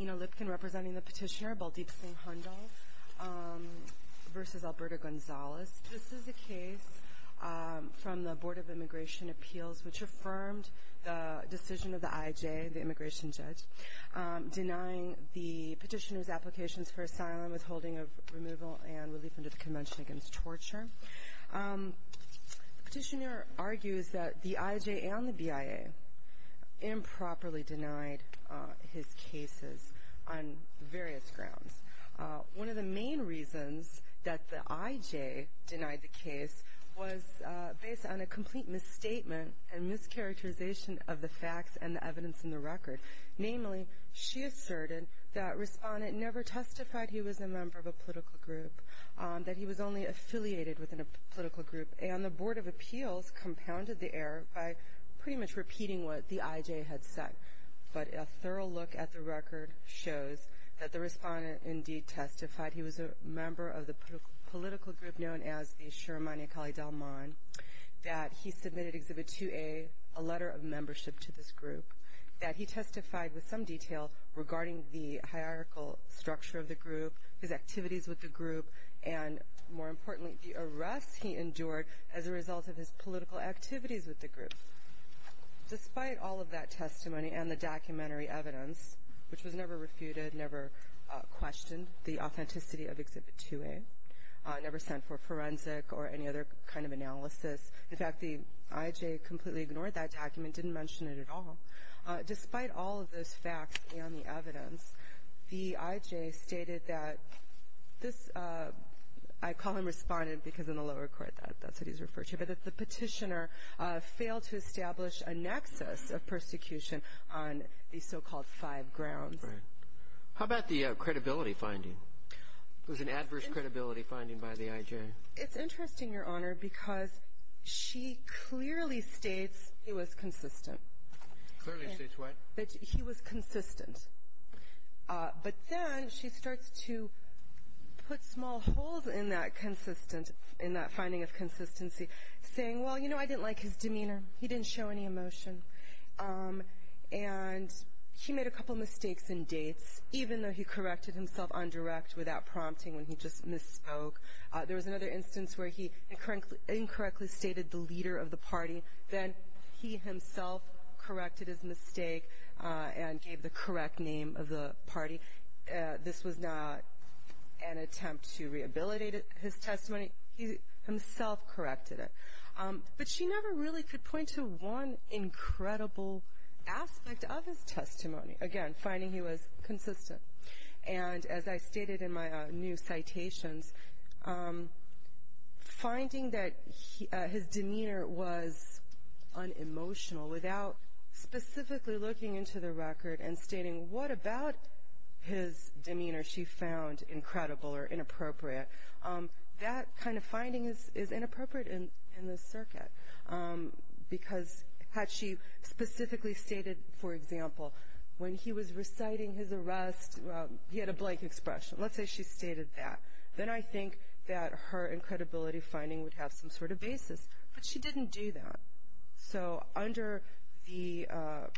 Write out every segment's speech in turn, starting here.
Ina Lipkin representing the petitioner, Baldeep Singh Handal v. Alberto Gonzales. This is a case from the Board of Immigration Appeals which affirmed the decision of the I.I.J., the immigration judge, denying the petitioner's applications for asylum, withholding of removal, and relief under the Convention Against Torture. The petitioner argues that the I.I.J. and the B.I.A. improperly denied his cases on various grounds. One of the main reasons that the I.I.J. denied the case was based on a complete misstatement and mischaracterization of the facts and the evidence in the record. Namely, she asserted that Respondent never testified he was a member of a political group, that he was only affiliated with a political group, and the Board of Appeals compounded the error by pretty much repeating what the I.I.J. had said. But a thorough look at the record shows that the Respondent indeed testified he was a member of the political group known as the Sheremani Akali Dalman, that he submitted Exhibit 2A, a letter of membership to this group, that he testified with some detail regarding the hierarchical structure of the group, his activities with the group, and, more importantly, the arrests he endured as a result of his political activities with the group. Despite all of that testimony and the documentary evidence, which was never refuted, never questioned, the authenticity of Exhibit 2A, never sent for forensic or any other kind of analysis. In fact, the I.I.J. completely ignored that document, didn't mention it at all. Despite all of those facts and the evidence, the I.I.J. stated that this — I call him Respondent because in the lower court that's what he's referred to, but that the petitioner failed to establish a nexus of persecution on these so-called five grounds. Right. How about the credibility finding? It was an adverse credibility finding by the I.I.J. It's interesting, Your Honor, because she clearly states he was consistent. Clearly states what? That he was consistent. But then she starts to put small holes in that finding of consistency, saying, well, you know, I didn't like his demeanor. He didn't show any emotion. And he made a couple mistakes in dates, even though he corrected himself on direct without prompting when he just misspoke. There was another instance where he incorrectly stated the leader of the party. Then he himself corrected his mistake and gave the correct name of the party. This was not an attempt to rehabilitate his testimony. He himself corrected it. But she never really could point to one incredible aspect of his testimony. Again, finding he was consistent. And as I stated in my new citations, finding that his demeanor was unemotional without specifically looking into the record and stating what about his demeanor she found incredible or inappropriate, that kind of finding is inappropriate in this circuit. Because had she specifically stated, for example, when he was reciting his arrest, he had a blank expression. Let's say she stated that. Then I think that her incredibility finding would have some sort of basis. But she didn't do that. So under the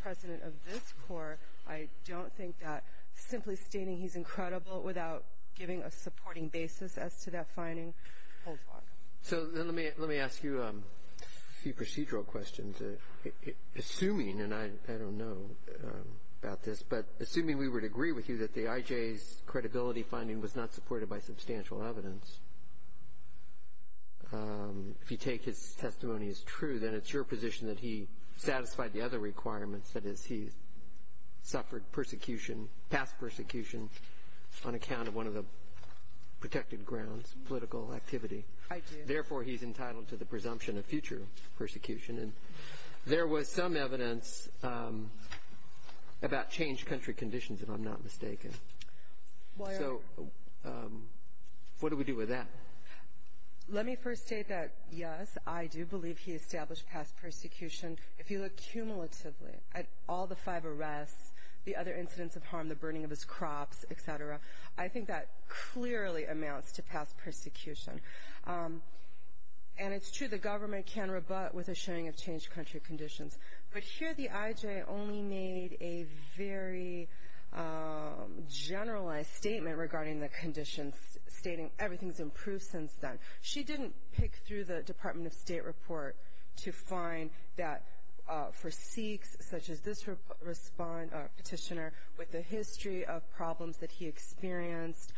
precedent of this court, I don't think that simply stating he's incredible without giving a supporting basis as to that finding holds water. So let me ask you a few procedural questions. Assuming, and I don't know about this, but assuming we would agree with you that the IJ's credibility finding was not supported by substantial evidence, if you take his testimony as true, then it's your position that he satisfied the other requirements, that is he suffered persecution, past persecution, on account of one of the protected grounds, political activity. I do. Therefore, he's entitled to the presumption of future persecution. And there was some evidence about changed country conditions, if I'm not mistaken. So what do we do with that? Let me first state that, yes, I do believe he established past persecution. If you look cumulatively at all the five arrests, the other incidents of harm, the burning of his crops, et cetera, I think that clearly amounts to past persecution. And it's true, the government can rebut with a showing of changed country conditions. But here the IJ only made a very generalized statement regarding the conditions, stating everything's improved since then. She didn't pick through the Department of State report to find that for Sikhs, such as this petitioner, with the history of problems that he experienced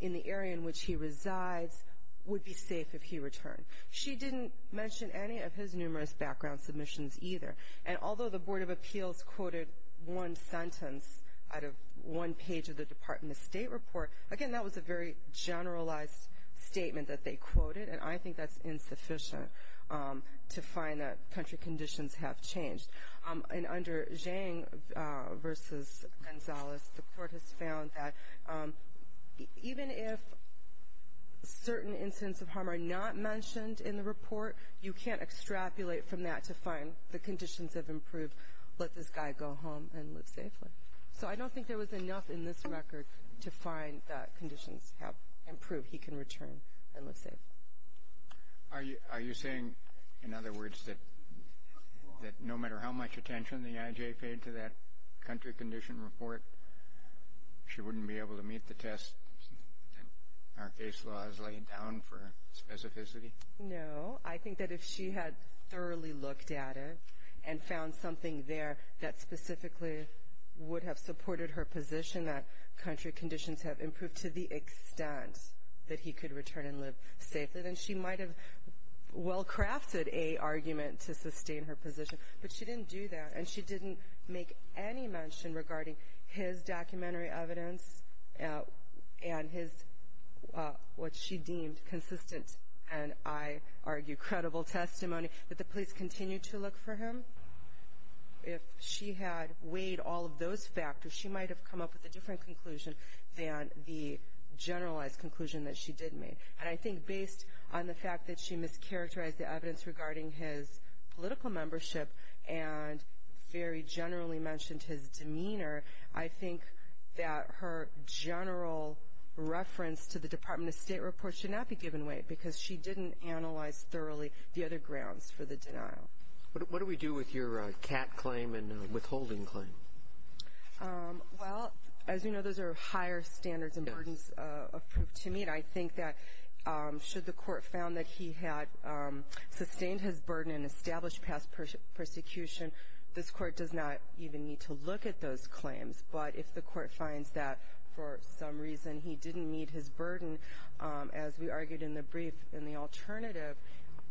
in the area in which he resides, would be safe if he returned. She didn't mention any of his numerous background submissions either. And although the Board of Appeals quoted one sentence out of one page of the Department of State report, again, that was a very generalized statement that they quoted, and I think that's insufficient to find that country conditions have changed. And under Zhang v. Gonzalez, the court has found that even if certain incidents of harm are not mentioned in the report, you can't extrapolate from that to find the conditions have improved, let this guy go home and live safely. So I don't think there was enough in this record to find that conditions have improved, he can return and live safely. Are you saying, in other words, that no matter how much attention the IJ paid to that country condition report, she wouldn't be able to meet the test that our case law has laid down for specificity? No. I think that if she had thoroughly looked at it and found something there that specifically would have supported her position, that country conditions have improved to the extent that he could return and live safely, then she might have well-crafted a argument to sustain her position. But she didn't do that, and she didn't make any mention regarding his documentary evidence and what she deemed consistent and, I argue, credible testimony. Did the police continue to look for him? If she had weighed all of those factors, she might have come up with a different conclusion than the generalized conclusion that she did make. And I think based on the fact that she mischaracterized the evidence regarding his political membership and very generally mentioned his demeanor, I think that her general reference to the Department of State report should not be given weight because she didn't analyze thoroughly the other grounds for the denial. What do we do with your CAT claim and withholding claim? Well, as you know, those are higher standards and burdens of proof to meet. And I think that should the court found that he had sustained his burden and established past persecution, this court does not even need to look at those claims. But if the court finds that for some reason he didn't meet his burden, as we argued in the brief in the alternative,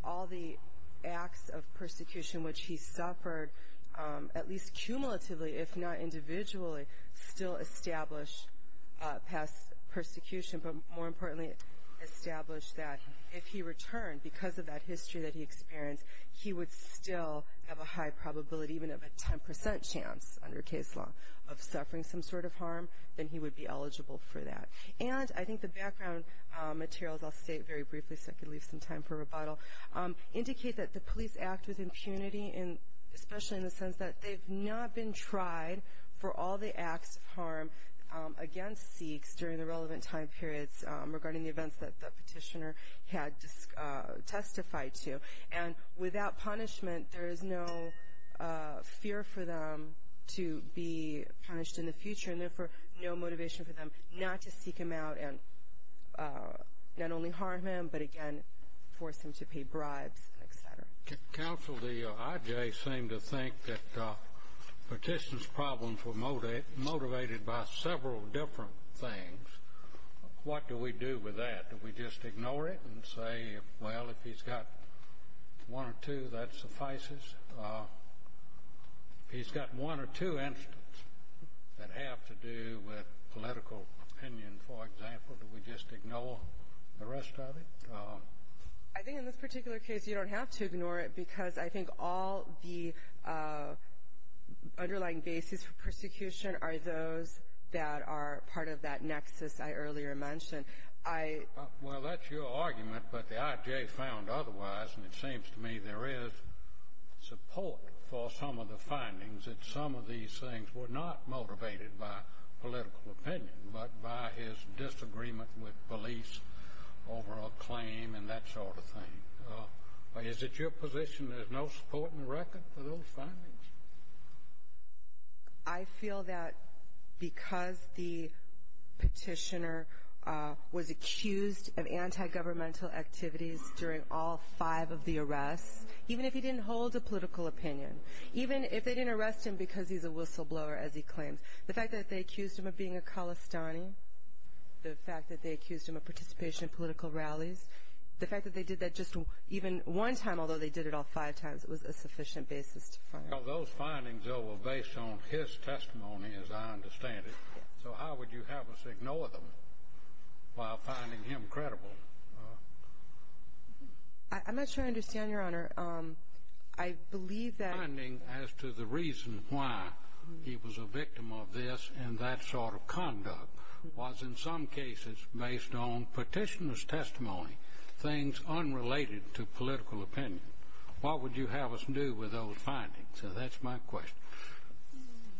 all the acts of persecution which he suffered, at least cumulatively if not individually, still establish past persecution, but more importantly establish that if he returned, because of that history that he experienced, he would still have a high probability, even of a 10% chance under case law, of suffering some sort of harm, then he would be eligible for that. And I think the background materials, I'll state very briefly so I can leave some time for rebuttal, indicate that the police act with impunity, especially in the sense that they've not been tried for all the acts of harm against Sikhs during the relevant time periods regarding the events that the petitioner had testified to. And without punishment, there is no fear for them to be punished in the future and therefore no motivation for them not to seek him out and not only harm him, but again, force him to pay bribes, et cetera. Counsel, the IJ seemed to think that petitioner's problems were motivated by several different things. What do we do with that? Do we just ignore it and say, well, if he's got one or two, that suffices? If he's got one or two incidents that have to do with political opinion, for example, do we just ignore the rest of it? I think in this particular case you don't have to ignore it because I think all the underlying basis for persecution are those that are part of that nexus I earlier mentioned. Well, that's your argument, but the IJ found otherwise, and it seems to me there is support for some of the findings that some of these things were not motivated by political opinion but by his disagreement with police over a claim and that sort of thing. Is it your position there's no support in the record for those findings? I feel that because the petitioner was accused of anti-governmental activities during all five of the arrests, even if he didn't hold a political opinion, even if they didn't arrest him because he's a whistleblower, as he claims, the fact that they accused him of being a Khalistani, the fact that they accused him of participation in political rallies, the fact that they did that just even one time, although they did it all five times, it was a sufficient basis to find out. Those findings, though, were based on his testimony, as I understand it. So how would you have us ignore them while finding him credible? I'm not sure I understand, Your Honor. I believe that the finding as to the reason why he was a victim of this and that sort of conduct was in some cases based on petitioner's testimony, things unrelated to political opinion. What would you have us do with those findings? That's my question.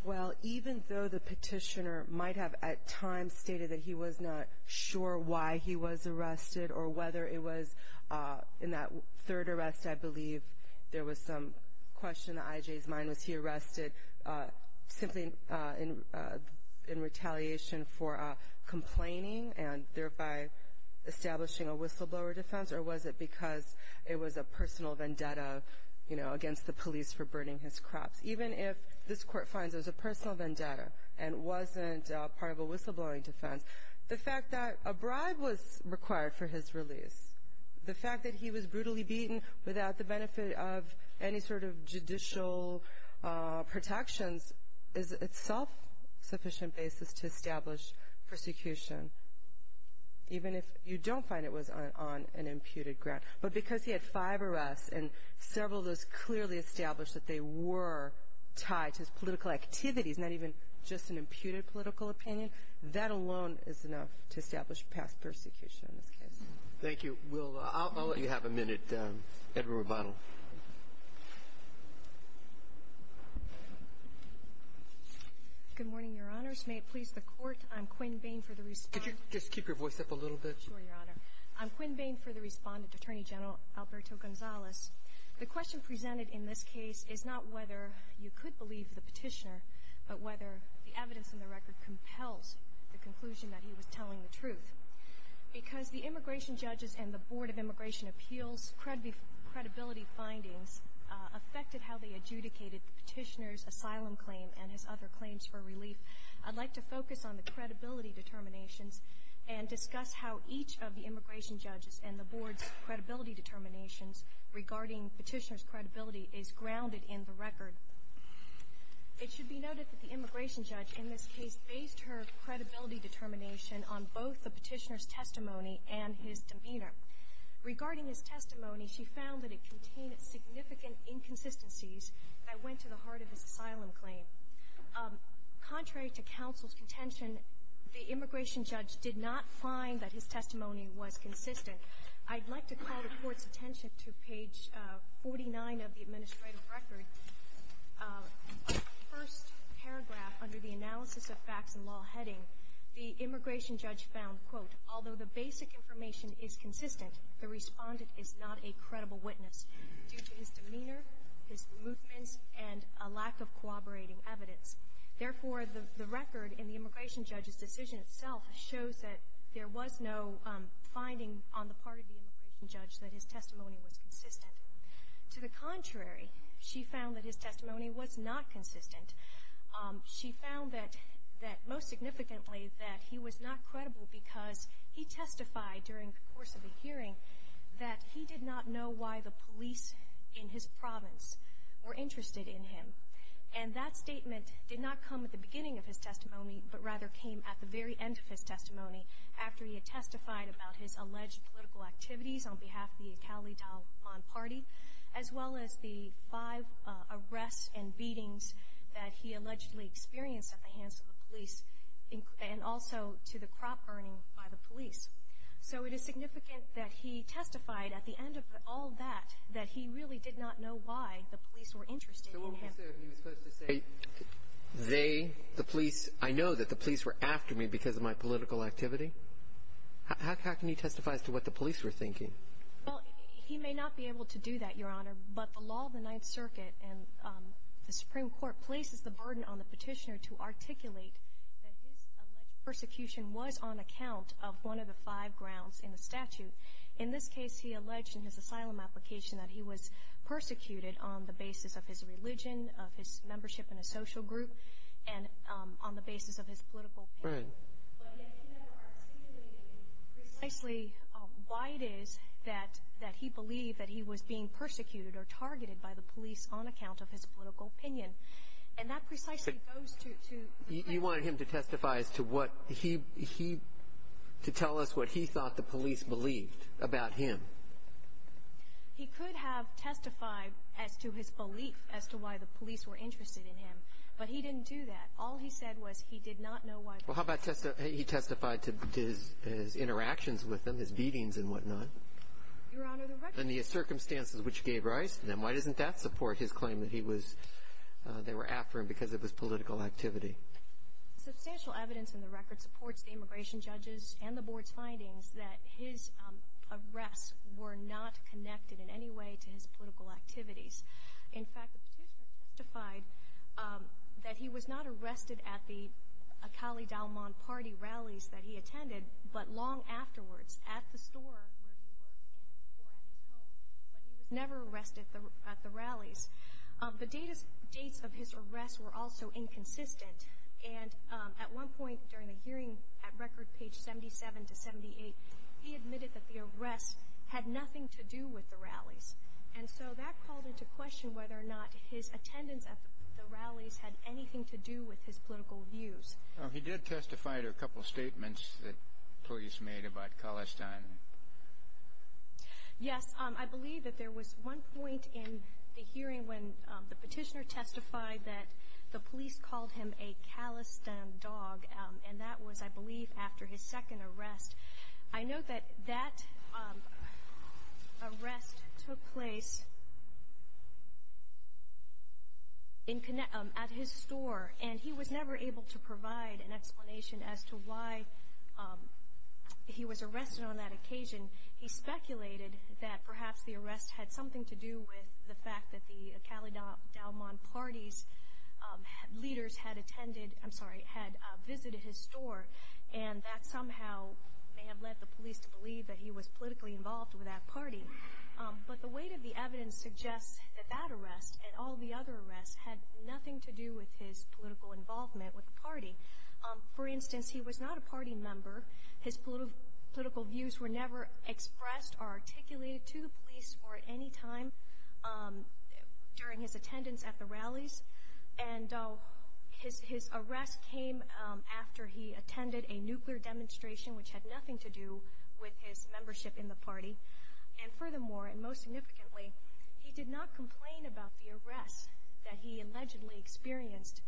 Well, even though the petitioner might have at times stated that he was not sure why he was arrested or whether it was in that third arrest, I believe there was some question in I.J.'s mind, was he arrested simply in retaliation for complaining and thereby establishing a whistleblower defense, or was it because it was a personal vendetta, you know, against the police for burning his crops? Even if this Court finds it was a personal vendetta and wasn't part of a whistleblowing defense, the fact that a bribe was required for his release, the fact that he was brutally beaten without the benefit of any sort of judicial protections is itself sufficient basis to establish persecution, even if you don't find it was on an imputed ground. But because he had five arrests and several of those clearly established that they were tied to his political activities, not even just an imputed political opinion, that alone is enough to establish past persecution in this case. Thank you. We'll – I'll let you have a minute. Edward Rebano. Good morning, Your Honors. May it please the Court, I'm Quinn Bain for the respondent. Could you just keep your voice up a little bit? Sure, Your Honor. I'm Quinn Bain for the respondent, Attorney General Alberto Gonzalez. The question presented in this case is not whether you could believe the petitioner, but whether the evidence in the record compels the conclusion that he was telling the truth. Because the immigration judges and the Board of Immigration Appeals' credibility findings affected how they adjudicated the petitioner's asylum claim and his other claims for relief, I'd like to focus on the credibility determinations and discuss how each of the immigration judges and the Board's credibility determinations regarding petitioner's credibility is grounded in the record. It should be noted that the immigration judge in this case based her credibility determination on both the petitioner's testimony and his demeanor. Regarding his testimony, she found that it contained significant inconsistencies that went to the heart of his asylum claim. Contrary to counsel's contention, the immigration judge did not find that his testimony was consistent. I'd like to call the Court's attention to page 49 of the administrative record. The first paragraph under the analysis of facts and law heading, the immigration judge found, quote, although the basic information is consistent, the respondent is not a credible witness due to his demeanor, his movements, and a lack of corroborating evidence. Therefore, the record in the immigration judge's decision itself shows that there was no finding on the part of the immigration judge that his testimony was consistent. To the contrary, she found that his testimony was not consistent. She found that most significantly that he was not credible because he testified during the course of the hearing that he did not know why the police in his province were interested in him. And that statement did not come at the beginning of his testimony, but rather came at the very end of his testimony after he had testified about his alleged political activities on behalf of the Iqalit al-Aman party, as well as the five arrests and beatings that he allegedly experienced at the hands of the police and also to the crop burning by the police. So it is significant that he testified at the end of all that, that he really did not know why the police were interested in him. So what was there he was supposed to say? They, the police, I know that the police were after me because of my political activity. How can he testify as to what the police were thinking? Well, he may not be able to do that, Your Honor, but the law of the Ninth Circuit and the Supreme Court places the burden on the petitioner to articulate that his alleged persecution was on account of one of the five grounds in the statute. In this case, he alleged in his asylum application that he was persecuted on the basis of his religion, of his membership in a social group, and on the basis of his political opinion. Right. But yet he never articulated precisely why it is that he believed that he was being persecuted or targeted by the police on account of his political opinion. And that precisely goes to the question. You wanted him to testify as to what he, to tell us what he thought the police believed about him. He could have testified as to his belief as to why the police were interested in him, but he didn't do that. All he said was he did not know why the police were interested in him. Well, how about he testified to his interactions with them, his beatings and whatnot? Your Honor, the record. And the circumstances which gave rise to them. Why doesn't that support his claim that he was, they were after him because of his political activity? Substantial evidence in the record supports the immigration judges and the Board's findings that his arrests were not connected in any way to his political activities. In fact, the petitioner testified that he was not arrested at the Akali Dauman party rallies that he attended, but long afterwards at the store where he worked or at his home. But he was never arrested at the rallies. The dates of his arrests were also inconsistent. And at one point during the hearing at record page 77 to 78, he admitted that the arrests had nothing to do with the rallies. And so that called into question whether or not his attendance at the rallies had anything to do with his political views. He did testify to a couple of statements that police made about Khalistan. Yes. I believe that there was one point in the hearing when the petitioner testified that the police called him a Khalistan dog, and that was, I believe, after his second arrest. I note that that arrest took place at his store, and he was never able to provide an explanation as to why he was arrested on that occasion. He speculated that perhaps the arrest had something to do with the fact that the Akali Dauman party's leaders had attended, I'm sorry, had visited his store, and that somehow may have led the police to believe that he was politically involved with that party. But the weight of the evidence suggests that that arrest and all the other arrests had nothing to do with his political involvement with the party. For instance, he was not a party member. His political views were never expressed or articulated to the police or at any time during his attendance at the rallies. And his arrest came after he attended a nuclear demonstration, which had nothing to do with his membership in the party. And furthermore, and most significantly, he did not complain about the arrests that he allegedly experienced.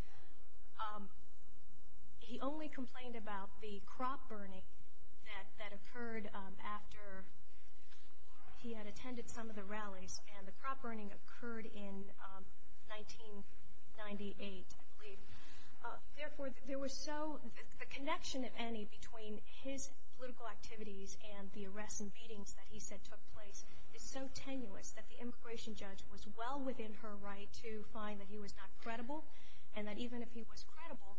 He only complained about the crop burning that occurred after he had attended some of the rallies, and the crop burning occurred in 1998, I believe. Therefore, there was so, the connection, if any, between his political activities and the arrests and beatings that he said took place is so tenuous that the immigration judge was well within her right to find that he was not credible, and that even if he was credible,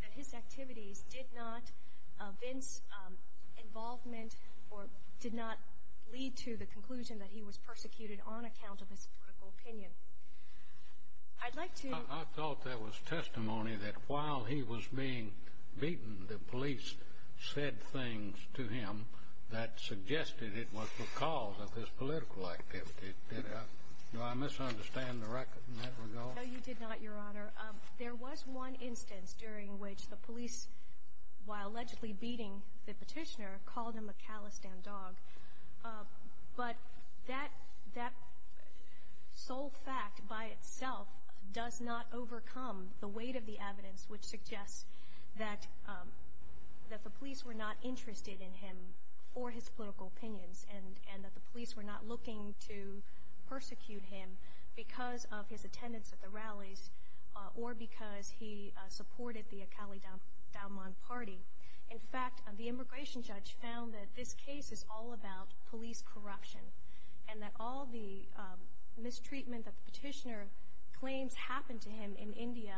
that his activities did not evince involvement or did not lead to the conclusion that he was persecuted on account of his political opinion. I'd like to... I thought there was testimony that while he was being beaten, the police said things to him that suggested it was because of his political activity. Did I, do I misunderstand the record in that regard? No, you did not, Your Honor. There was one instance during which the police, while allegedly beating the petitioner, called him a callous damn dog. But that sole fact by itself does not overcome the weight of the evidence which suggests that the police were not interested in him for his political opinions, and that the police were not looking to persecute him because of his attendance at the rallies or because he supported the Akali Dauman party. In fact, the immigration judge found that this case is all about police corruption and that all the mistreatment that the petitioner claims happened to him in India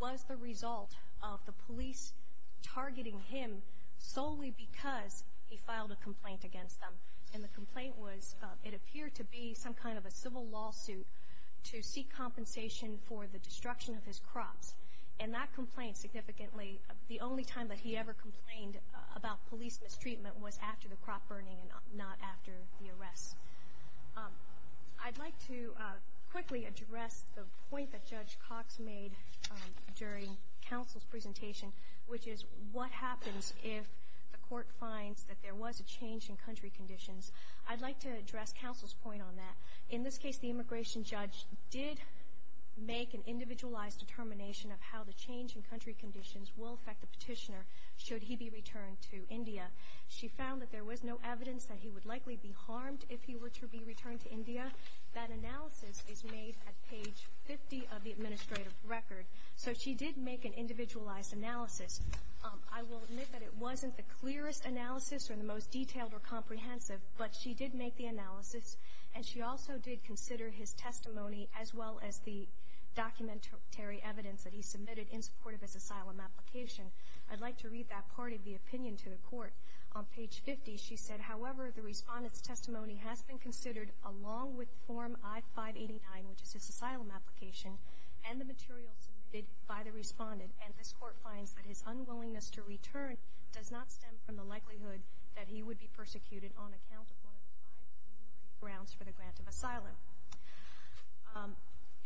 was the result of the police targeting him solely because he filed a complaint against them. And the complaint was, it appeared to be some kind of a civil lawsuit to seek compensation for the destruction of his crops. And that complaint significantly, the only time that he ever complained about police mistreatment was after the crop burning and not after the arrest. I'd like to quickly address the point that Judge Cox made during counsel's presentation, which is what happens if the court finds that there was a change in country conditions. I'd like to address counsel's point on that. In this case, the immigration judge did make an individualized determination of how the change in country conditions will affect the petitioner should he be returned to India. She found that there was no evidence that he would likely be harmed if he were to be returned to India. That analysis is made at page 50 of the administrative record. So she did make an individualized analysis. I will admit that it wasn't the clearest analysis or the most detailed or comprehensive, but she did make the analysis, and she also did consider his testimony as well as the documentary evidence that he submitted in support of his asylum application. I'd like to read that part of the opinion to the court. On page 50, she said, however, the respondent's testimony has been considered along with form I-589, which is his asylum application, and the material submitted by the respondent. And this court finds that his unwillingness to return does not stem from the likelihood that he would be persecuted on account of one of the five enumerated grounds for the grant of asylum.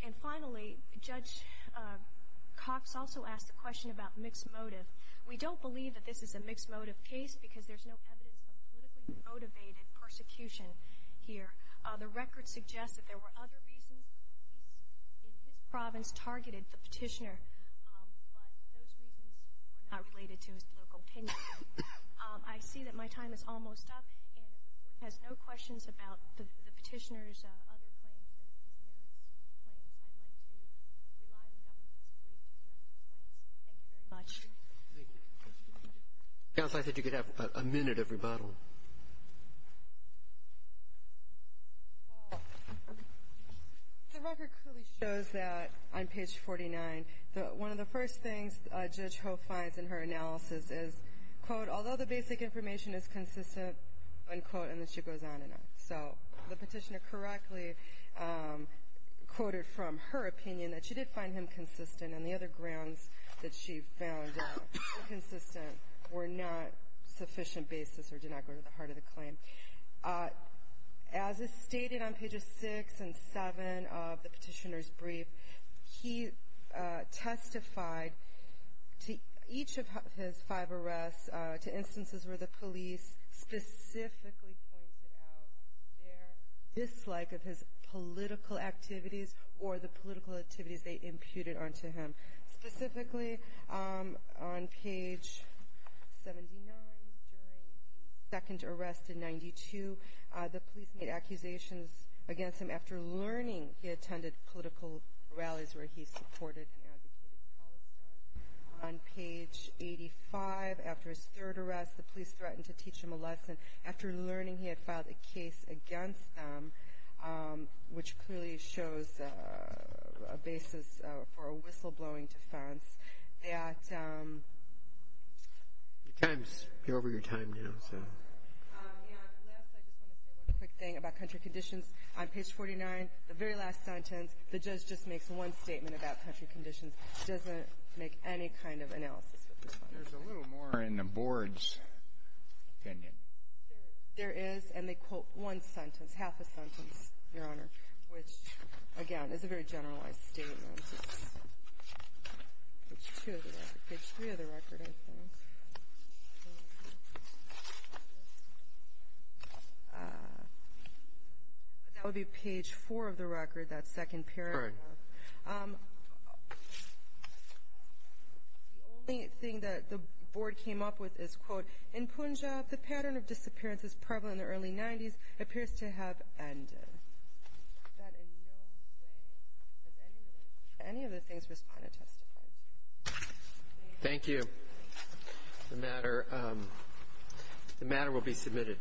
And finally, Judge Cox also asked a question about mixed motive. We don't believe that this is a mixed motive case because there's no evidence of politically motivated persecution here. The record suggests that there were other reasons that the police in his province targeted the petitioner, but those reasons were not related to his political opinion. I see that my time is almost up. And if the court has no questions about the petitioner's other claims, his merits claims, I'd like to rely on the government's brief to address the claims. Thank you very much. Counsel, I thought you could have a minute of rebuttal. The record clearly shows that on page 49, one of the first things Judge Ho finds in her analysis is, quote, although the basic information is consistent, unquote, and then she goes on and on. So the petitioner correctly quoted from her opinion that she did find him consistent and the other grounds that she found inconsistent were not sufficient basis or did not go to the heart of the claim. As is stated on pages 6 and 7 of the petitioner's brief, he testified to each of his five arrests to instances where the police specifically pointed out their dislike of his political activities or the political activities they imputed onto him. Specifically, on page 79, during the second arrest in 92, the police made accusations against him after learning he attended political rallies where he supported and advocated for Palestine. On page 85, after his third arrest, the police threatened to teach him a lesson. After learning he had filed a case against them, which clearly shows a basis for a whistleblowing defense, that the time is over your time now. And last, I just want to say one quick thing about country conditions. On page 49, the very last sentence, the judge just makes one statement about country conditions. She doesn't make any kind of analysis with this one. There's a little more in the board's opinion. There is, and they quote one sentence, half a sentence, Your Honor, which, again, is a very generalized statement. Page 2 of the record. Page 3 of the record, I think. That would be page 4 of the record, that second paragraph. The only thing that the board came up with is, quote, In Punjab, the pattern of disappearances prevalent in the early 90s appears to have ended. That in no way has any of the things responded testified to. Thank you. The matter will be submitted.